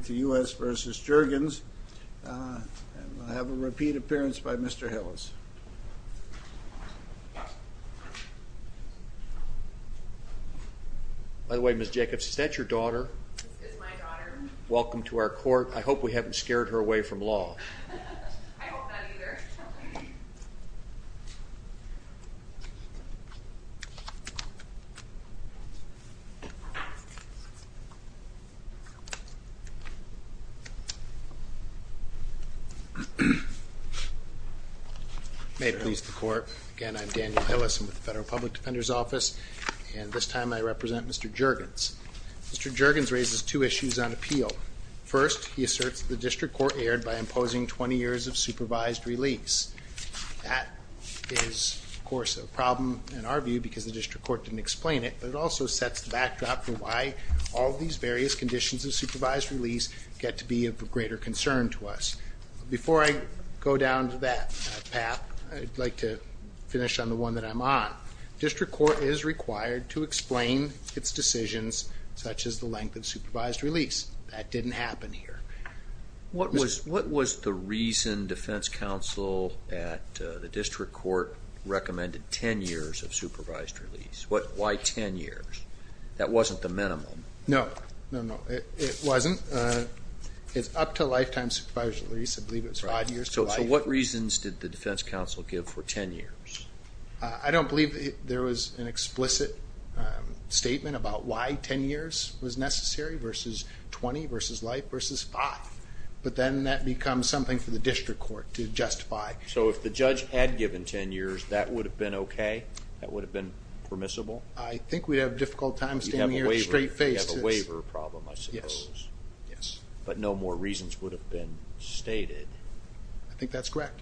I have a repeat appearance by Mr. Hillis. By the way, Ms. Jacobs, is that your daughter? This is my daughter. Welcome to our court. I hope we haven't scared her away from law. I hope not either. May it please the court. Again, I'm Daniel Hillis. I'm with the Federal Public Defender's Office. And this time I represent Mr. Jurgens. Mr. Jurgens raises two issues on appeal. First, he asserts the district court erred by imposing 20 years of supervised release. That is, of course, a problem in our view because the district court didn't explain it. It also sets the backdrop for why all these various conditions of supervised release get to be of greater concern to us. Before I go down to that path, I'd like to finish on the one that I'm on. District court is required to explain its decisions, such as the length of supervised release. That didn't happen here. What was the reason defense counsel at the district court recommended 10 years of supervised release? Why 10 years? That wasn't the minimum. No, it wasn't. It's up to lifetime supervised release. I believe it was five years to life. So what reasons did the defense counsel give for 10 years? I don't believe there was an explicit statement about why 10 years was necessary versus 20 versus life versus five. But then that becomes something for the district court to justify. So if the judge had given 10 years, that would have been okay? That would have been permissible? I think we'd have a difficult time standing here straight-faced. We'd have a waiver problem, I suppose. But no more reasons would have been stated. I think that's correct.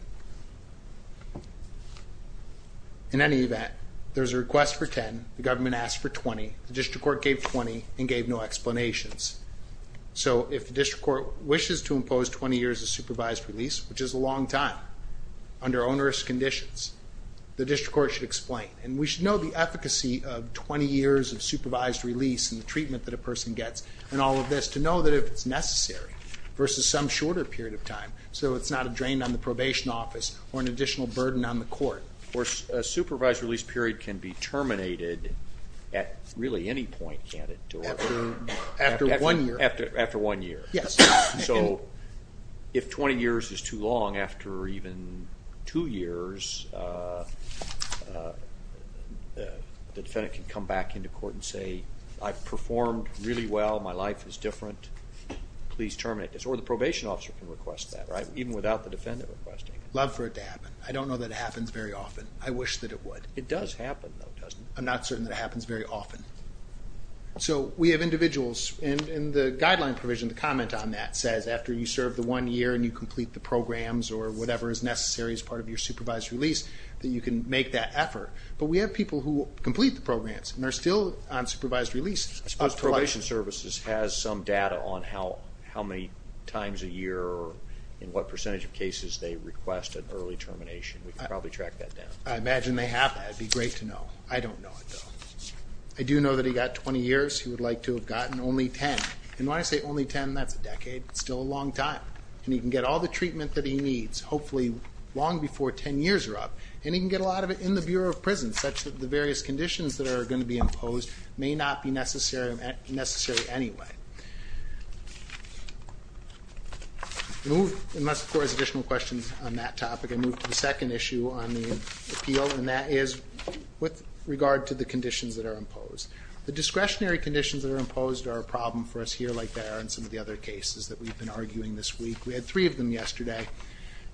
In any event, there's a request for 10, the government asked for 20, the district court gave 20 and gave no explanations. So if the district court wishes to impose 20 years of supervised release, which is a long time under onerous conditions, the district court should explain. And we should know the efficacy of 20 years of supervised release and the treatment that a person gets and all of this to know that if it's necessary versus some shorter period of time so it's not a drain on the probation office or an additional burden on the court. A supervised release period can be terminated at really any point, can't it? After one year. After one year. So if 20 years is too long after even two years, the defendant can come back into court and say, I performed really well, my life is different, please terminate this. Or the probation officer can request that, right? Even without the defendant requesting it. Love for it to happen. I don't know that it happens very often. I wish that it would. It does happen though, doesn't it? I'm not certain that it happens very often. So we have individuals in the guideline provision, the comment on that says after you serve the one year and you complete the programs or whatever is necessary as part of your supervised release, that you can make that effort. But we have people who complete the programs and are still on supervised release. I suppose probation services has some data on how many times a year or in what percentage of cases they request an early termination. We can probably track that down. I imagine they have that. It would be great to know. I don't know it though. I do know that he got 20 years. He would like to have gotten only 10. And when I say only 10, that's a decade. It's still a long time. And he can get all the treatment that he needs, hopefully long before 10 years are up. And he can get a lot of it in the Bureau of Prisons such that the various conditions that are going to be imposed may not be necessary anyway. Unless the Board has additional questions on that topic, I move to the second issue on the appeal. And that is with regard to the conditions that are imposed. The discretionary conditions that are imposed are a problem for us here like they are in some of the other cases that we've been arguing this week. We had three of them yesterday.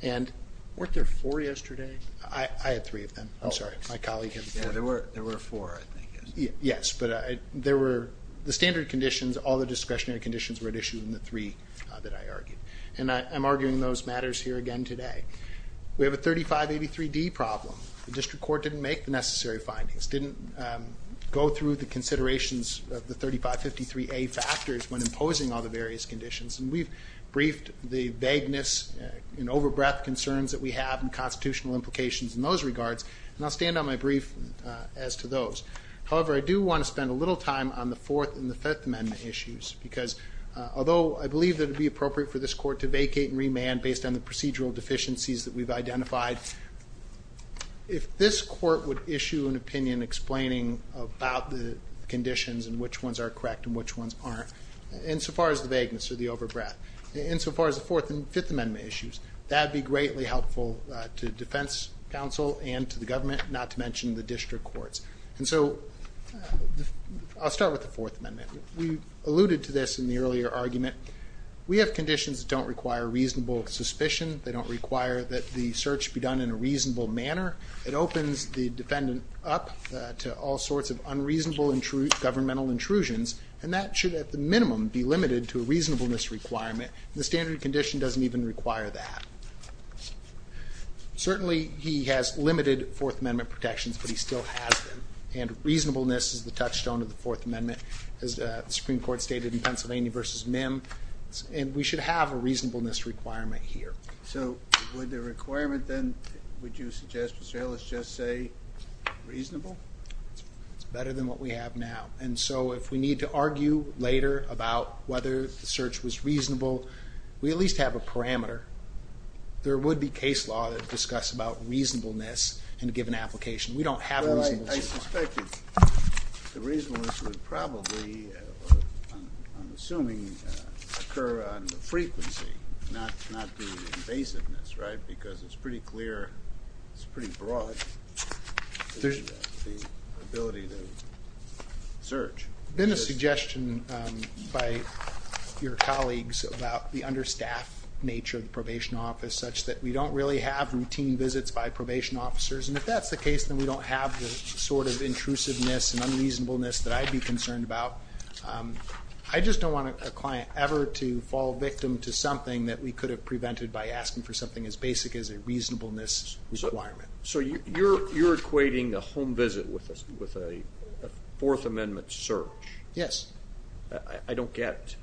Weren't there four yesterday? I had three of them. I'm sorry, my colleague had four. There were four, I think. Yes, but there were... The standard conditions, all the discretionary conditions were at issue in the three that I argued. And I'm arguing those matters here again today. We have a 3583D problem. The District Court didn't make the necessary findings, didn't go through the considerations of the 3553A factors when imposing all the various conditions. And we've briefed the vagueness and over breadth constitutional implications in those regards. And I'll stand on my brief as to those. However, I do want to spend a little time on the Fourth and the Fifth Amendment issues. Because although I believe it would be appropriate for this Court to vacate and remand based on the procedural deficiencies that we've identified, if this Court would issue an opinion explaining about the conditions and which ones are correct and which ones aren't, insofar as the vagueness or the deficiencies are concerned, it would be appropriate to do so to the Defense Counsel and to the government, not to mention the District Courts. And so, I'll start with the Fourth Amendment. We alluded to this in the earlier argument. We have conditions that don't require reasonable suspicion. They don't require that the search be done in a reasonable manner. It opens the defendant up to all sorts of unreasonable governmental intrusions. And that should at the minimum be limited to a reasonableness requirement. The standard condition doesn't even require that. Certainly, he has limited Fourth Amendment protections, but he still has them. And reasonableness is the touchstone of the Fourth Amendment, as the Supreme Court stated in Pennsylvania v. Mim. And we should have a reasonableness requirement here. So, would the requirement then, would you suggest, Mr. Ellis, just say reasonable? It's better than what we have now. And so, if we need to argue later about whether the search was reasonable, we at least have a parameter. There would be case law that would discuss about reasonableness in a given application. We don't have a reasonableness requirement. I suspect that the reasonableness would probably, I'm assuming, occur on the frequency, not the invasiveness, right? Because it's pretty clear, it's pretty broad, the ability to search. There's been a suggestion by your colleagues about the understaffed nature of the probation office, such that we don't really have routine visits by probation officers. And if that's the case, then we don't have the sort of intrusiveness and unreasonableness that I'd be concerned about. I just don't want a client ever to fall victim to something that we could have prevented by asking for something as basic as a reasonableness requirement. So, you're equating a home visit with a Fourth Amendment search? Yes. I don't get,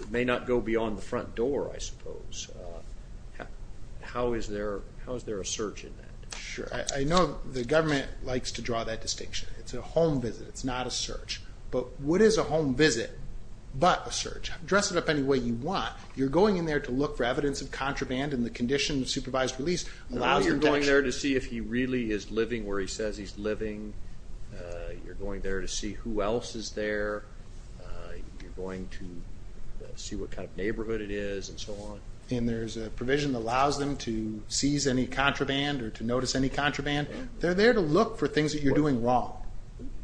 it may not go beyond the front door, I suppose. How is there a search in that? Sure. I know the government likes to draw that distinction. It's a home visit, but a search. Dress it up any way you want. You're going in there to look for evidence of contraband and the condition of supervised release allows them to action. You're going there to see if he really is living where he says he's living. You're going there to see who else is there. You're going to see what kind of neighborhood it is and so on. And there's a provision that allows them to seize any contraband or to notice any contraband. They're there to look for things that you're doing wrong,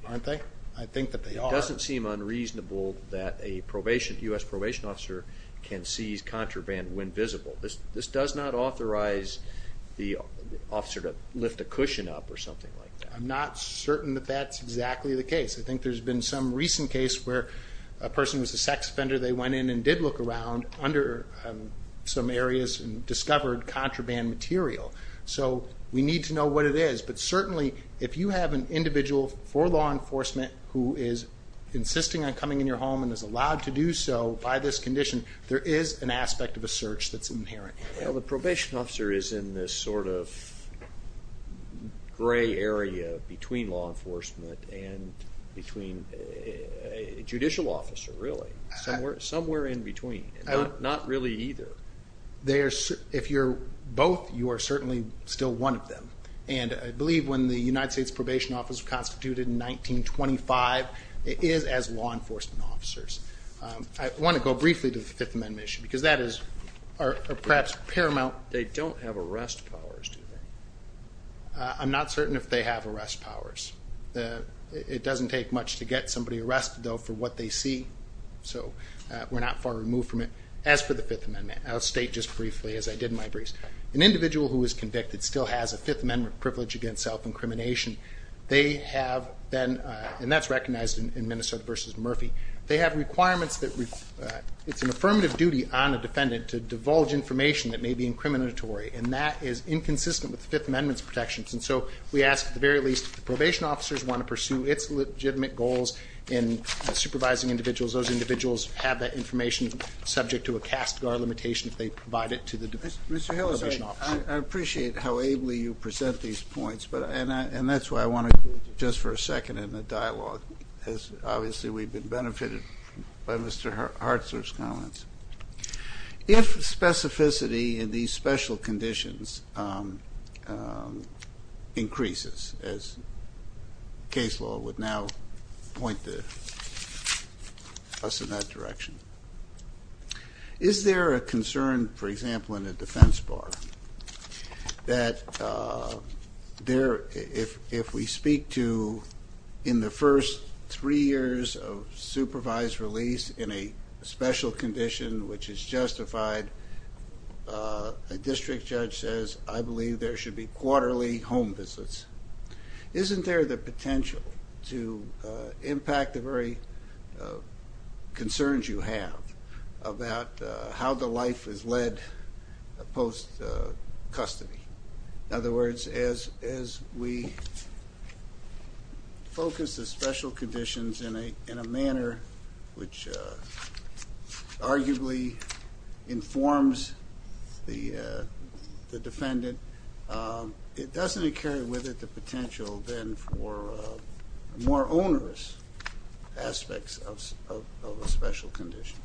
aren't they? I think that they are. It doesn't seem unreasonable that a U.S. probation officer can seize contraband when visible. This does not authorize the officer to lift a cushion up or something like that. I'm not certain that that's exactly the case. I think there's been some recent case where a person was a sex offender. They went in and did look around under some areas and we need to know what it is. But certainly if you have an individual for law enforcement who is insisting on coming in your home and is allowed to do so by this condition, there is an aspect of a search that's inherent. The probation officer is in this sort of gray area between law enforcement and between a judicial officer, really. Somewhere in between. Not one of them. And I believe when the United States Probation Office was constituted in 1925, it is as law enforcement officers. I want to go briefly to the Fifth Amendment issue because that is perhaps paramount. They don't have arrest powers, do they? I'm not certain if they have arrest powers. It doesn't take much to get somebody arrested, though, for what they see. So we're not far removed from it. As for the Fifth Amendment, I'll state just briefly, as I did in my briefs, an individual who is convicted still has a Fifth Amendment privilege against self-incrimination. They have been, and that's recognized in Minnesota v. Murphy, they have requirements that it's an affirmative duty on a defendant to divulge information that may be incriminatory. And that is inconsistent with the Fifth Amendment's protections. And so we ask, at the very least, if the probation officers want to pursue its legitimate goals in supervising individuals, those individuals have that information subject to a cast-gar limitation if they provide it to the probation officer. Mr. Hill, I appreciate how ably you present these points, and that's why I want to go just for a second in the dialogue as obviously we've been benefited by Mr. Hartzler's comments. If specificity in these special conditions increases, as case law would now point us in that direction, is there a concern, for example, in the defense bar that if we speak to in the first three years of supervised release in a special condition which is justified, a district judge says, I believe there should be quarterly home visits. Isn't there the potential to impact the very concerns you have about how the life is led post-custody? In other words, as we focus the special conditions in a manner which arguably informs the defendant, doesn't it carry with it the potential then for more onerous aspects of a special condition?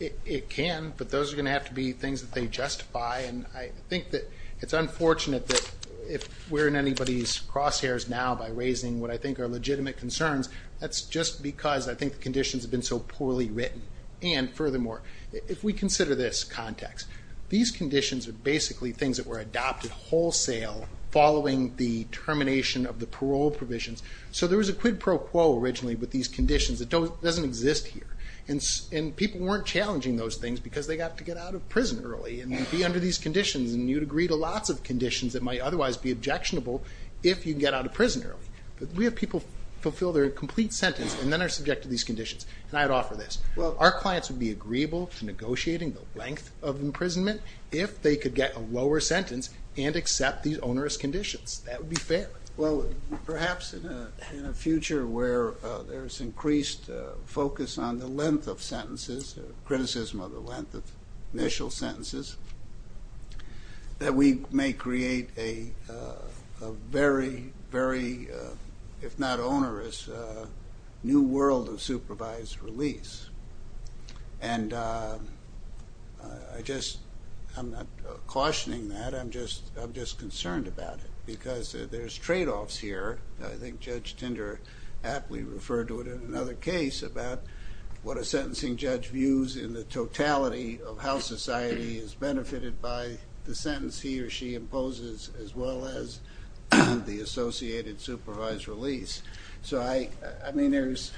It can, but those are going to have to be things that they justify, and I think that it's unfortunate that if we're in anybody's crosshairs now by raising what I think are legitimate concerns, that's just because I think the conditions have been so poorly written. And furthermore, if we consider this context, these conditions are basically things that were adopted wholesale following the termination of the parole provisions. So there was a quid pro quo originally with these conditions. It doesn't exist here. And people weren't challenging those things because they got to get out of prison early and be under these conditions. And you'd agree to lots of conditions that might otherwise be objectionable if you get out of prison early. But we have people fulfill their complete sentence and then are subjected to these conditions. And I'd offer this. Our clients would be agreeable to negotiating the length of imprisonment if they could get a lower sentence and accept these onerous conditions. That would be fair. Well, perhaps in a future where there's increased focus on the length of sentences, criticism of the length of initial sentences, that we may create a very, very, if not onerous, new world of supervised release. And I just, I'm not cautioning that. I'm just concerned about it. Because there's tradeoffs here. I think Judge Tinder aptly referred to it in another case about what a sentencing judge views in the totality of how society is benefited by the sentence he or she imposes, as well as the associated supervised release. So I mean, there's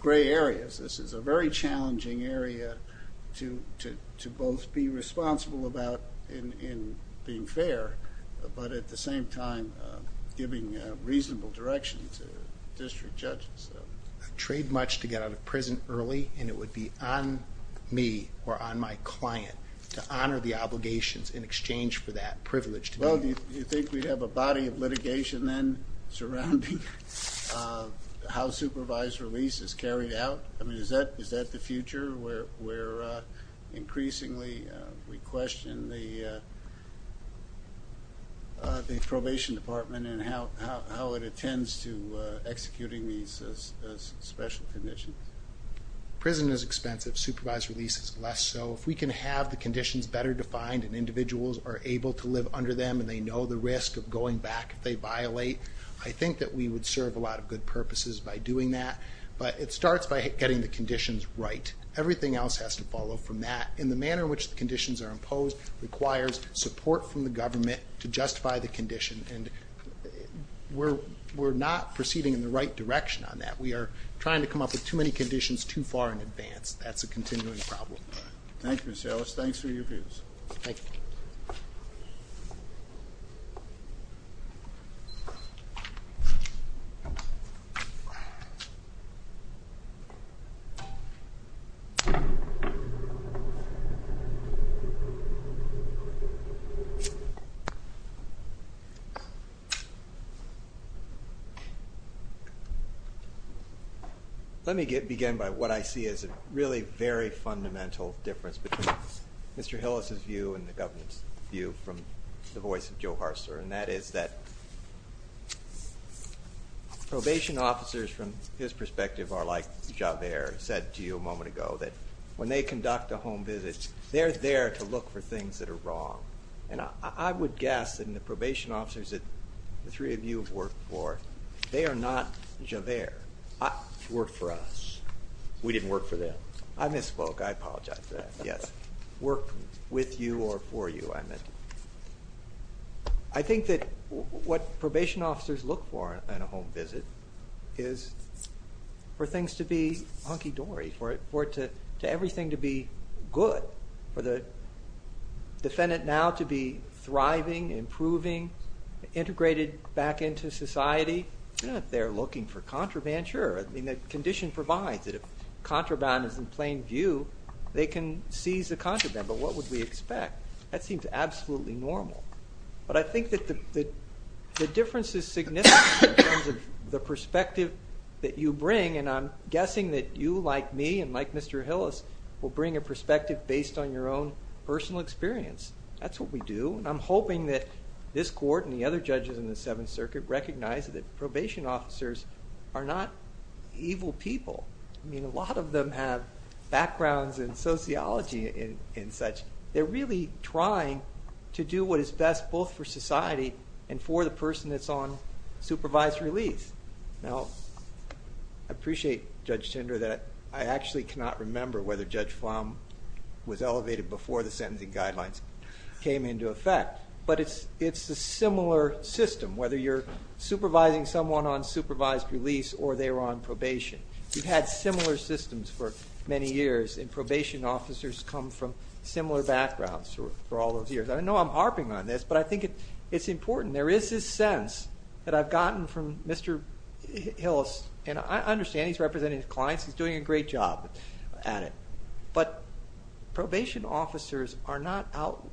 gray areas. This is a very challenging area to both be responsible about in being fair, but at the same time giving reasonable direction to district judges. I'd trade much to get out of prison early, and it would be on me or on my client to honor the obligations in exchange for that privilege to me. Well, do you think we'd have a body of litigation then surrounding how supervised release is carried out? I mean, is that the future where increasingly we question the probation department and how it attends to executing these special conditions? Prison is expensive. Supervised release is less so. If we can have the conditions better defined and individuals are able to live under them and they know the risk of going back if they violate, I think that we would serve a lot of good purposes by doing that. But it starts by getting the conditions right. Everything else has to follow from that. And the manner in which the conditions are imposed requires support from the government to justify the condition. And we're not proceeding in the right direction on that. We are trying to come up with too many conditions too far in advance. That's a continuing problem. Thank you, Mr. Ellis. Thanks for your views. Let me begin by what I see as a really very fundamental difference between Mr. Hillis' view and the government's view from the voice of Joe Harser, and that is that probation officers from his perspective are like Javert said to you a moment ago, that when they conduct a home visit, they're there to look for things that are wrong. And I would guess that in the probation officers that the three of you have worked for, they are not Javert. Worked for us. We didn't work for them. I misspoke. I apologize for that. Worked with you or for you. I think that what probation officers look for in a home visit is for things to be hunky-dory, for everything to be good, for the defendant now to be thriving, improving, integrated back into society. If they're looking for contraband, sure. The condition provides that if contraband is in plain view, they can seize the contraband. But what would we expect? That seems absolutely normal. But I think that the difference is significant in terms of the perspective that you bring a perspective based on your own personal experience. That's what we do. And I'm hoping that this court and the other judges in the Seventh Circuit recognize that probation officers are not evil people. I mean, a lot of them have backgrounds in sociology and such. They're really trying to do what is best both for society and for the person that's on supervised release. Now, I appreciate, Judge Tinder, that I actually cannot remember whether Judge Flom was elevated before the sentencing guidelines came into effect. But it's a similar system, whether you're supervising someone on supervised release or they're on probation. We've had similar systems for many years and probation officers come from similar backgrounds for all those years. I know I'm harping on this, but I think it's important. There is this sense that I've gotten from Mr. Hillis, and I understand he's representing his clients. He's doing a great job at it. But probation officers are not out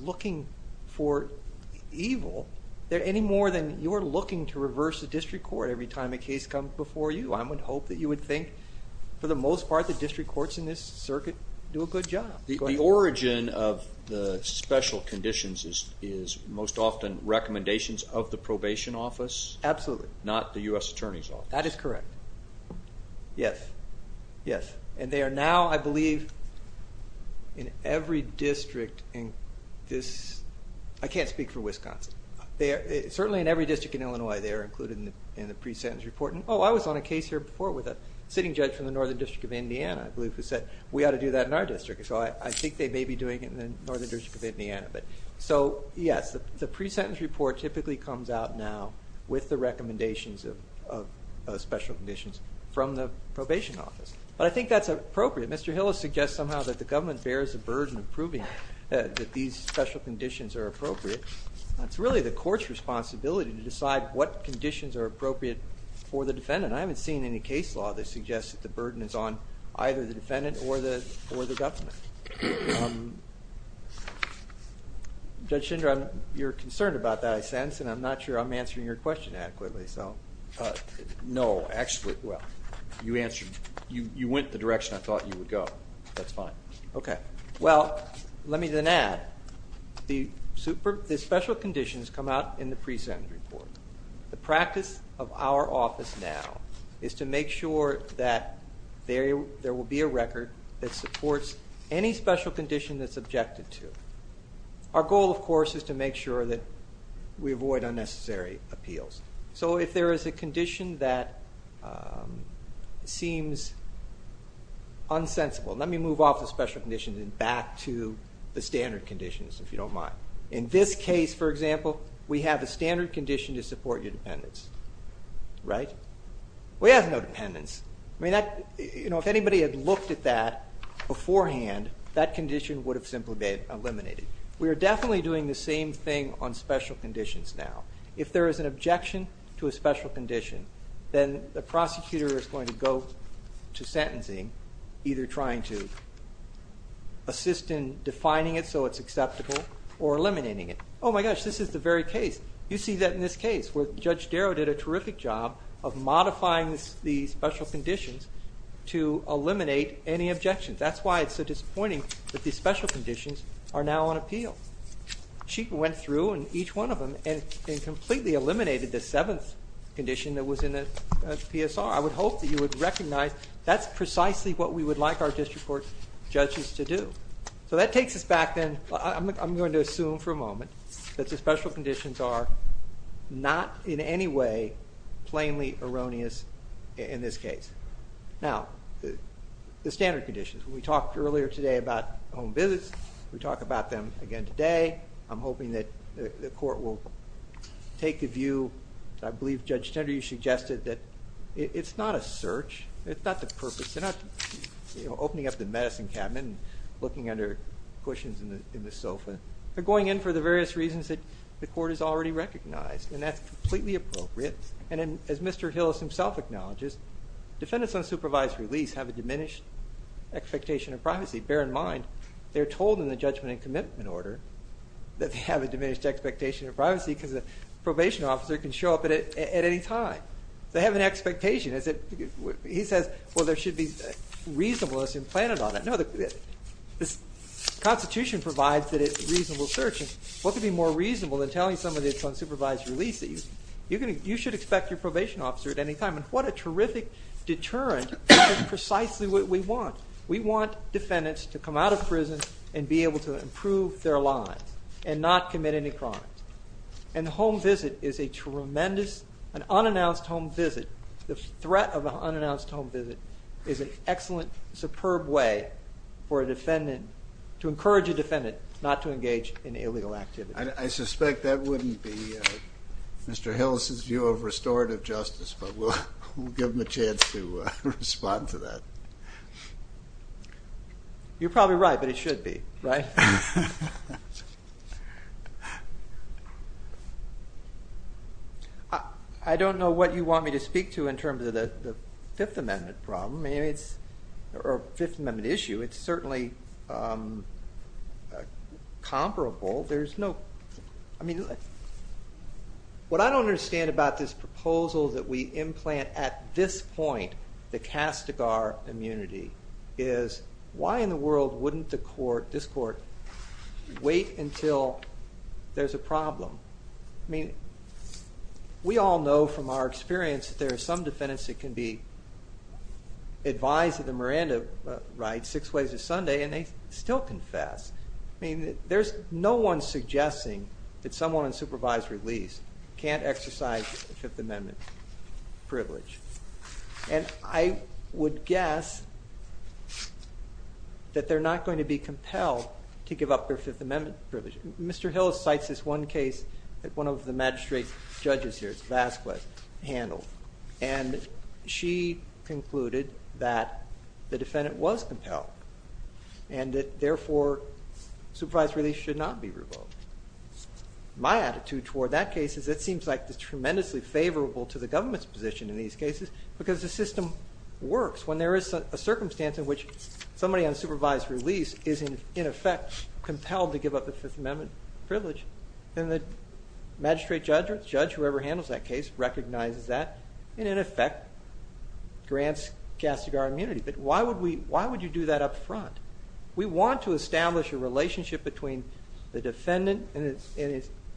looking for evil any more than you're looking to reverse the district court every time a case comes before you. I would hope that you would think, for the most part, that district courts in this is most often recommendations of the probation office. Absolutely. Not the U.S. Attorney's Office. That is correct. Yes. Yes. And they are now, I believe, in every district in this... I can't speak for Wisconsin. Certainly in every district in Illinois, they are included in the pre-sentence report. Oh, I was on a case here before with a sitting judge from the Northern District of Indiana, I believe, who said, we ought to do that in our district. So I think they may be doing it in the Northern District of Indiana. Yes, the pre-sentence report typically comes out now with the recommendations of special conditions from the probation office. But I think that's appropriate. Mr. Hillis suggests somehow that the government bears the burden of proving that these special conditions are appropriate. It's really the court's responsibility to decide what conditions are appropriate for the defendant. I haven't seen any case law that suggests that the burden is on either the defendant or the government. Judge Schindler, you're concerned about that, I sense, and I'm not sure I'm answering your question adequately. No, actually, you went the direction I thought you would go. That's fine. Okay. Well, let me then add, the special conditions come out in the pre-sentence report. The practice of our office now is to make sure that there will be a record that supports any special condition that's objected to. Our goal, of course, is to make sure that we avoid unnecessary appeals. So if there is a condition that seems unsensible, let me move off special conditions and back to the standard conditions, if you don't mind. In this case, for example, we have a standard condition to support your dependence. We have no dependence. If anybody had looked at that beforehand, that condition would have simply been eliminated. We are definitely doing the same thing on special conditions now. If there is an objection to a special condition, then the prosecutor is going to go to sentencing, either trying to assist in defining it so it's acceptable or eliminating it. Oh my gosh, this is the very case. You see that in this case, where Judge Darrow did a terrific job of modifying the special conditions to eliminate any objections. That's why it's so disappointing that these special conditions are now on appeal. She went through each one of them and completely eliminated the seventh condition that was in the PSR. I would hope that you would recognize that's precisely what we would like our district court judges to do. So that takes us back then, I'm going to assume for a moment, that the special conditions are not in any way plainly erroneous in this case. Now, the standard conditions. We talked earlier today about home visits. We talk about them again today. I'm hoping that the court will take a view. I believe Judge Tender, you suggested that it's not a search. It's not the purpose. They're not opening up the medicine cabinet and looking under cushions in the sofa. They're going in for the various reasons that the court has already recognized. And that's completely appropriate. And as Mr. Hillis himself acknowledges, defendants on supervised release have a diminished expectation of privacy. Bear in mind, they're told in the judgment and commitment order that they have a diminished expectation of privacy because a probation officer can show up at any time. They have an expectation. He says, well, there should be reasonableness implanted on that. No, the Constitution provides that it's a reasonable search. What could be more reasonable than telling somebody that it's on supervised release that you should expect your probation officer at any time? And what a terrific deterrent. That's precisely what we want. We want defendants to come out of prison and be able to improve their lives and not commit any crimes. And a home visit is a tremendous, an unannounced home visit. The threat of an unannounced home visit is an excellent, superb way for a defendant, to encourage a defendant not to engage in illegal activity. I suspect that wouldn't be Mr. Hillis' view of restorative justice, but we'll give him a chance to respond to that. You're probably right, but it should be, right? I don't know what you want me to speak to in terms of the Fifth Amendment issue. It's certainly comparable. What I don't understand about this proposal that we implant at this point, the Castigar immunity, is why in the world wouldn't this court wait until there's a problem? We all know from our experience that there are some defendants that can be advised of the Miranda rights six ways a Sunday and they still confess. There's no one suggesting that someone on supervised release can't exercise the Fifth Amendment privilege. And I would guess that they're not going to be compelled to give up their Fifth Amendment privilege. Mr. Hillis cites this one case that one of the magistrate judges here, Vasquez, handled, and she concluded that the defendant was compelled and that therefore supervised release should not be revoked. My attitude toward that case is it seems like it's tremendously favorable to the government's position in these cases because the system works when there is a circumstance in which somebody on supervised release is in effect compelled to give up the Fifth Amendment privilege. And the magistrate judge, whoever handles that case, recognizes that and in effect grants Castigar immunity. But why would you do that up front? We want to establish a relationship between the defendant and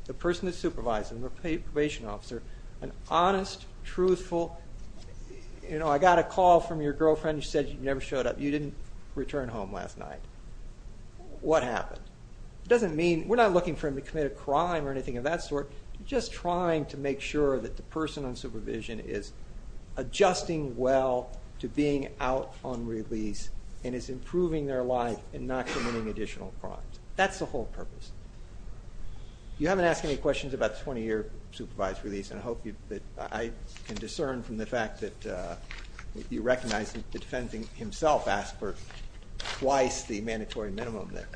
the person who supervises, the probation officer, an honest, truthful, you know, I got a call from your girlfriend who said you never showed up, you didn't return home last night. What happened? It doesn't mean, we're not looking for him to commit a crime or anything of that sort. We're just trying to make sure that the person on supervision is adjusting well to being out on release and is improving their life and not committing additional crimes. That's the whole purpose. You haven't asked any questions about the 20-year supervised release and I hope that I can discern from the fact that you recognize that the defendant himself asked for twice the mandatory minimum there.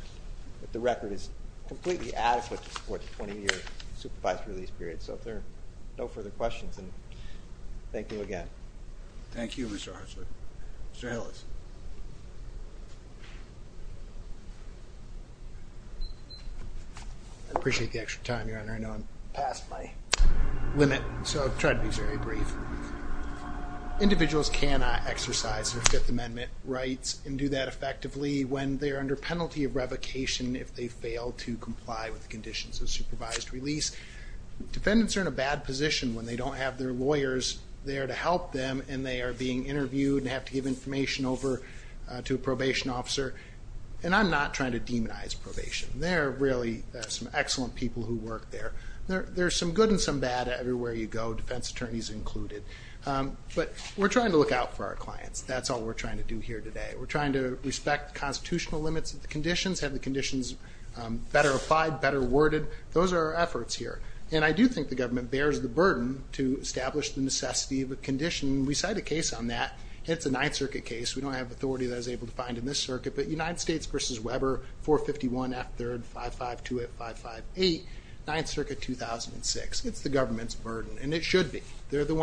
The record is completely adequate to support the 20-year supervised release period. So if there are no further questions, thank you again. Thank you, Mr. Hartzler. Mr. Hillis. I appreciate the extra time, Your Honor. I know I'm past my limit, so I'll try to be very brief. Individuals cannot exercise their Fifth Amendment rights and do that effectively when they are under penalty of revocation if they fail to comply with the conditions of supervised release. Defendants are in a bad position when they don't have their lawyers there to help them and they are being interviewed and have to give information over to a probation officer. And I'm not trying to demonize probation. There are really some excellent people who work there. There's some good and some bad everywhere you go, defense attorneys included. But we're trying to look out for our clients. That's all we're trying to do here today. We're trying to respect the constitutional limits of the conditions, have the conditions better applied, better worded. Those are our efforts here. And I do think the government bears the burden to establish the necessity of a condition. We cite a case on that. It's a Ninth Circuit case. We don't have authority that I was able to find in this circuit, but United States v. Weber, 451 F. 3rd 5528 558, Ninth Circuit 2006. It's the government's burden and it should be. They're the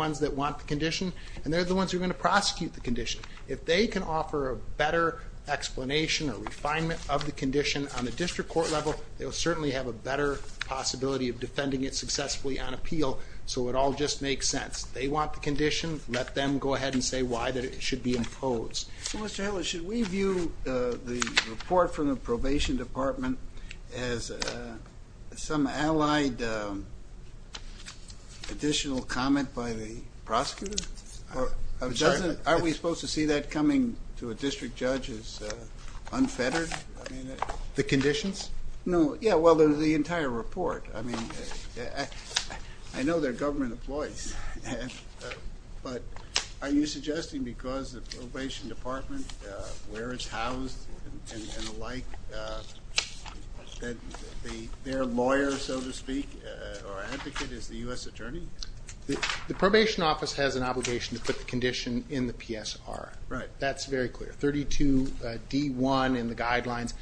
better explanation or refinement of the condition on the district court level. They'll certainly have a better possibility of defending it successfully on appeal. So it all just makes sense. They want the condition. Let them go ahead and say why that it should be imposed. Should we view the report from the probation department as some allied additional comment by the prosecutor? Aren't we supposed to see that coming to a district judge as unfettered? The conditions? The entire report. I know they're government employees, but are you suggesting because the probation department, where it's housed and the like, that their lawyer, so to speak, or advocate is the U.S. attorney? The probation office has an obligation to put the condition in the PSR. That's very clear. 32D1 in the guidelines.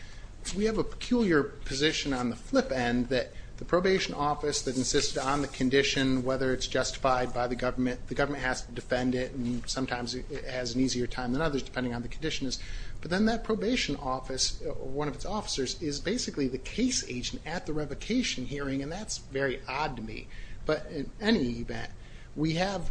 We have a peculiar position on the flip end that the probation office that insisted on the condition, whether it's justified by the government, the government has to defend it and sometimes it has an easier time than others depending on the condition. But then that probation office, one of its officers, is basically the case agent at the revocation hearing and that's very odd to me. But in any event, we have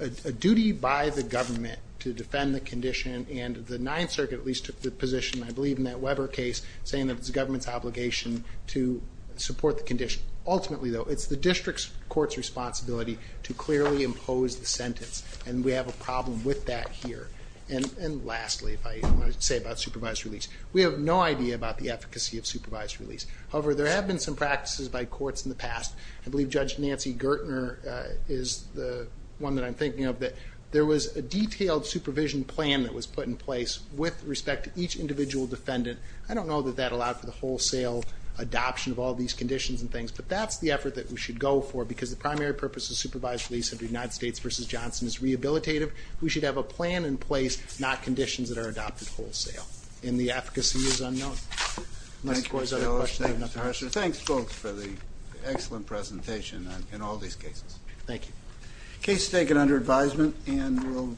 a duty by the government to defend the condition and the Ninth Circuit at least took the position, I believe in that Weber case, saying that it's the government's obligation to support the condition. Ultimately though, it's the district court's responsibility to clearly impose the sentence and we have a problem with that here. And lastly, if I say about supervised release, we have no idea about the efficacy of supervised release. However, there have been some practices by courts in the past. I believe Judge Nancy Gertner is the one that I'm thinking of that there was a detailed supervision plan that was put in place with respect to each individual defendant. I don't know that that allowed for the wholesale adoption of all these conditions and things, but that's the effort that we should go for because the primary purpose of supervised release under United States v. Johnson is rehabilitative. We should have a plan in place, not conditions that are adopted wholesale. And the efficacy is unknown. Thanks folks for the excellent presentation on all these cases. Thank you.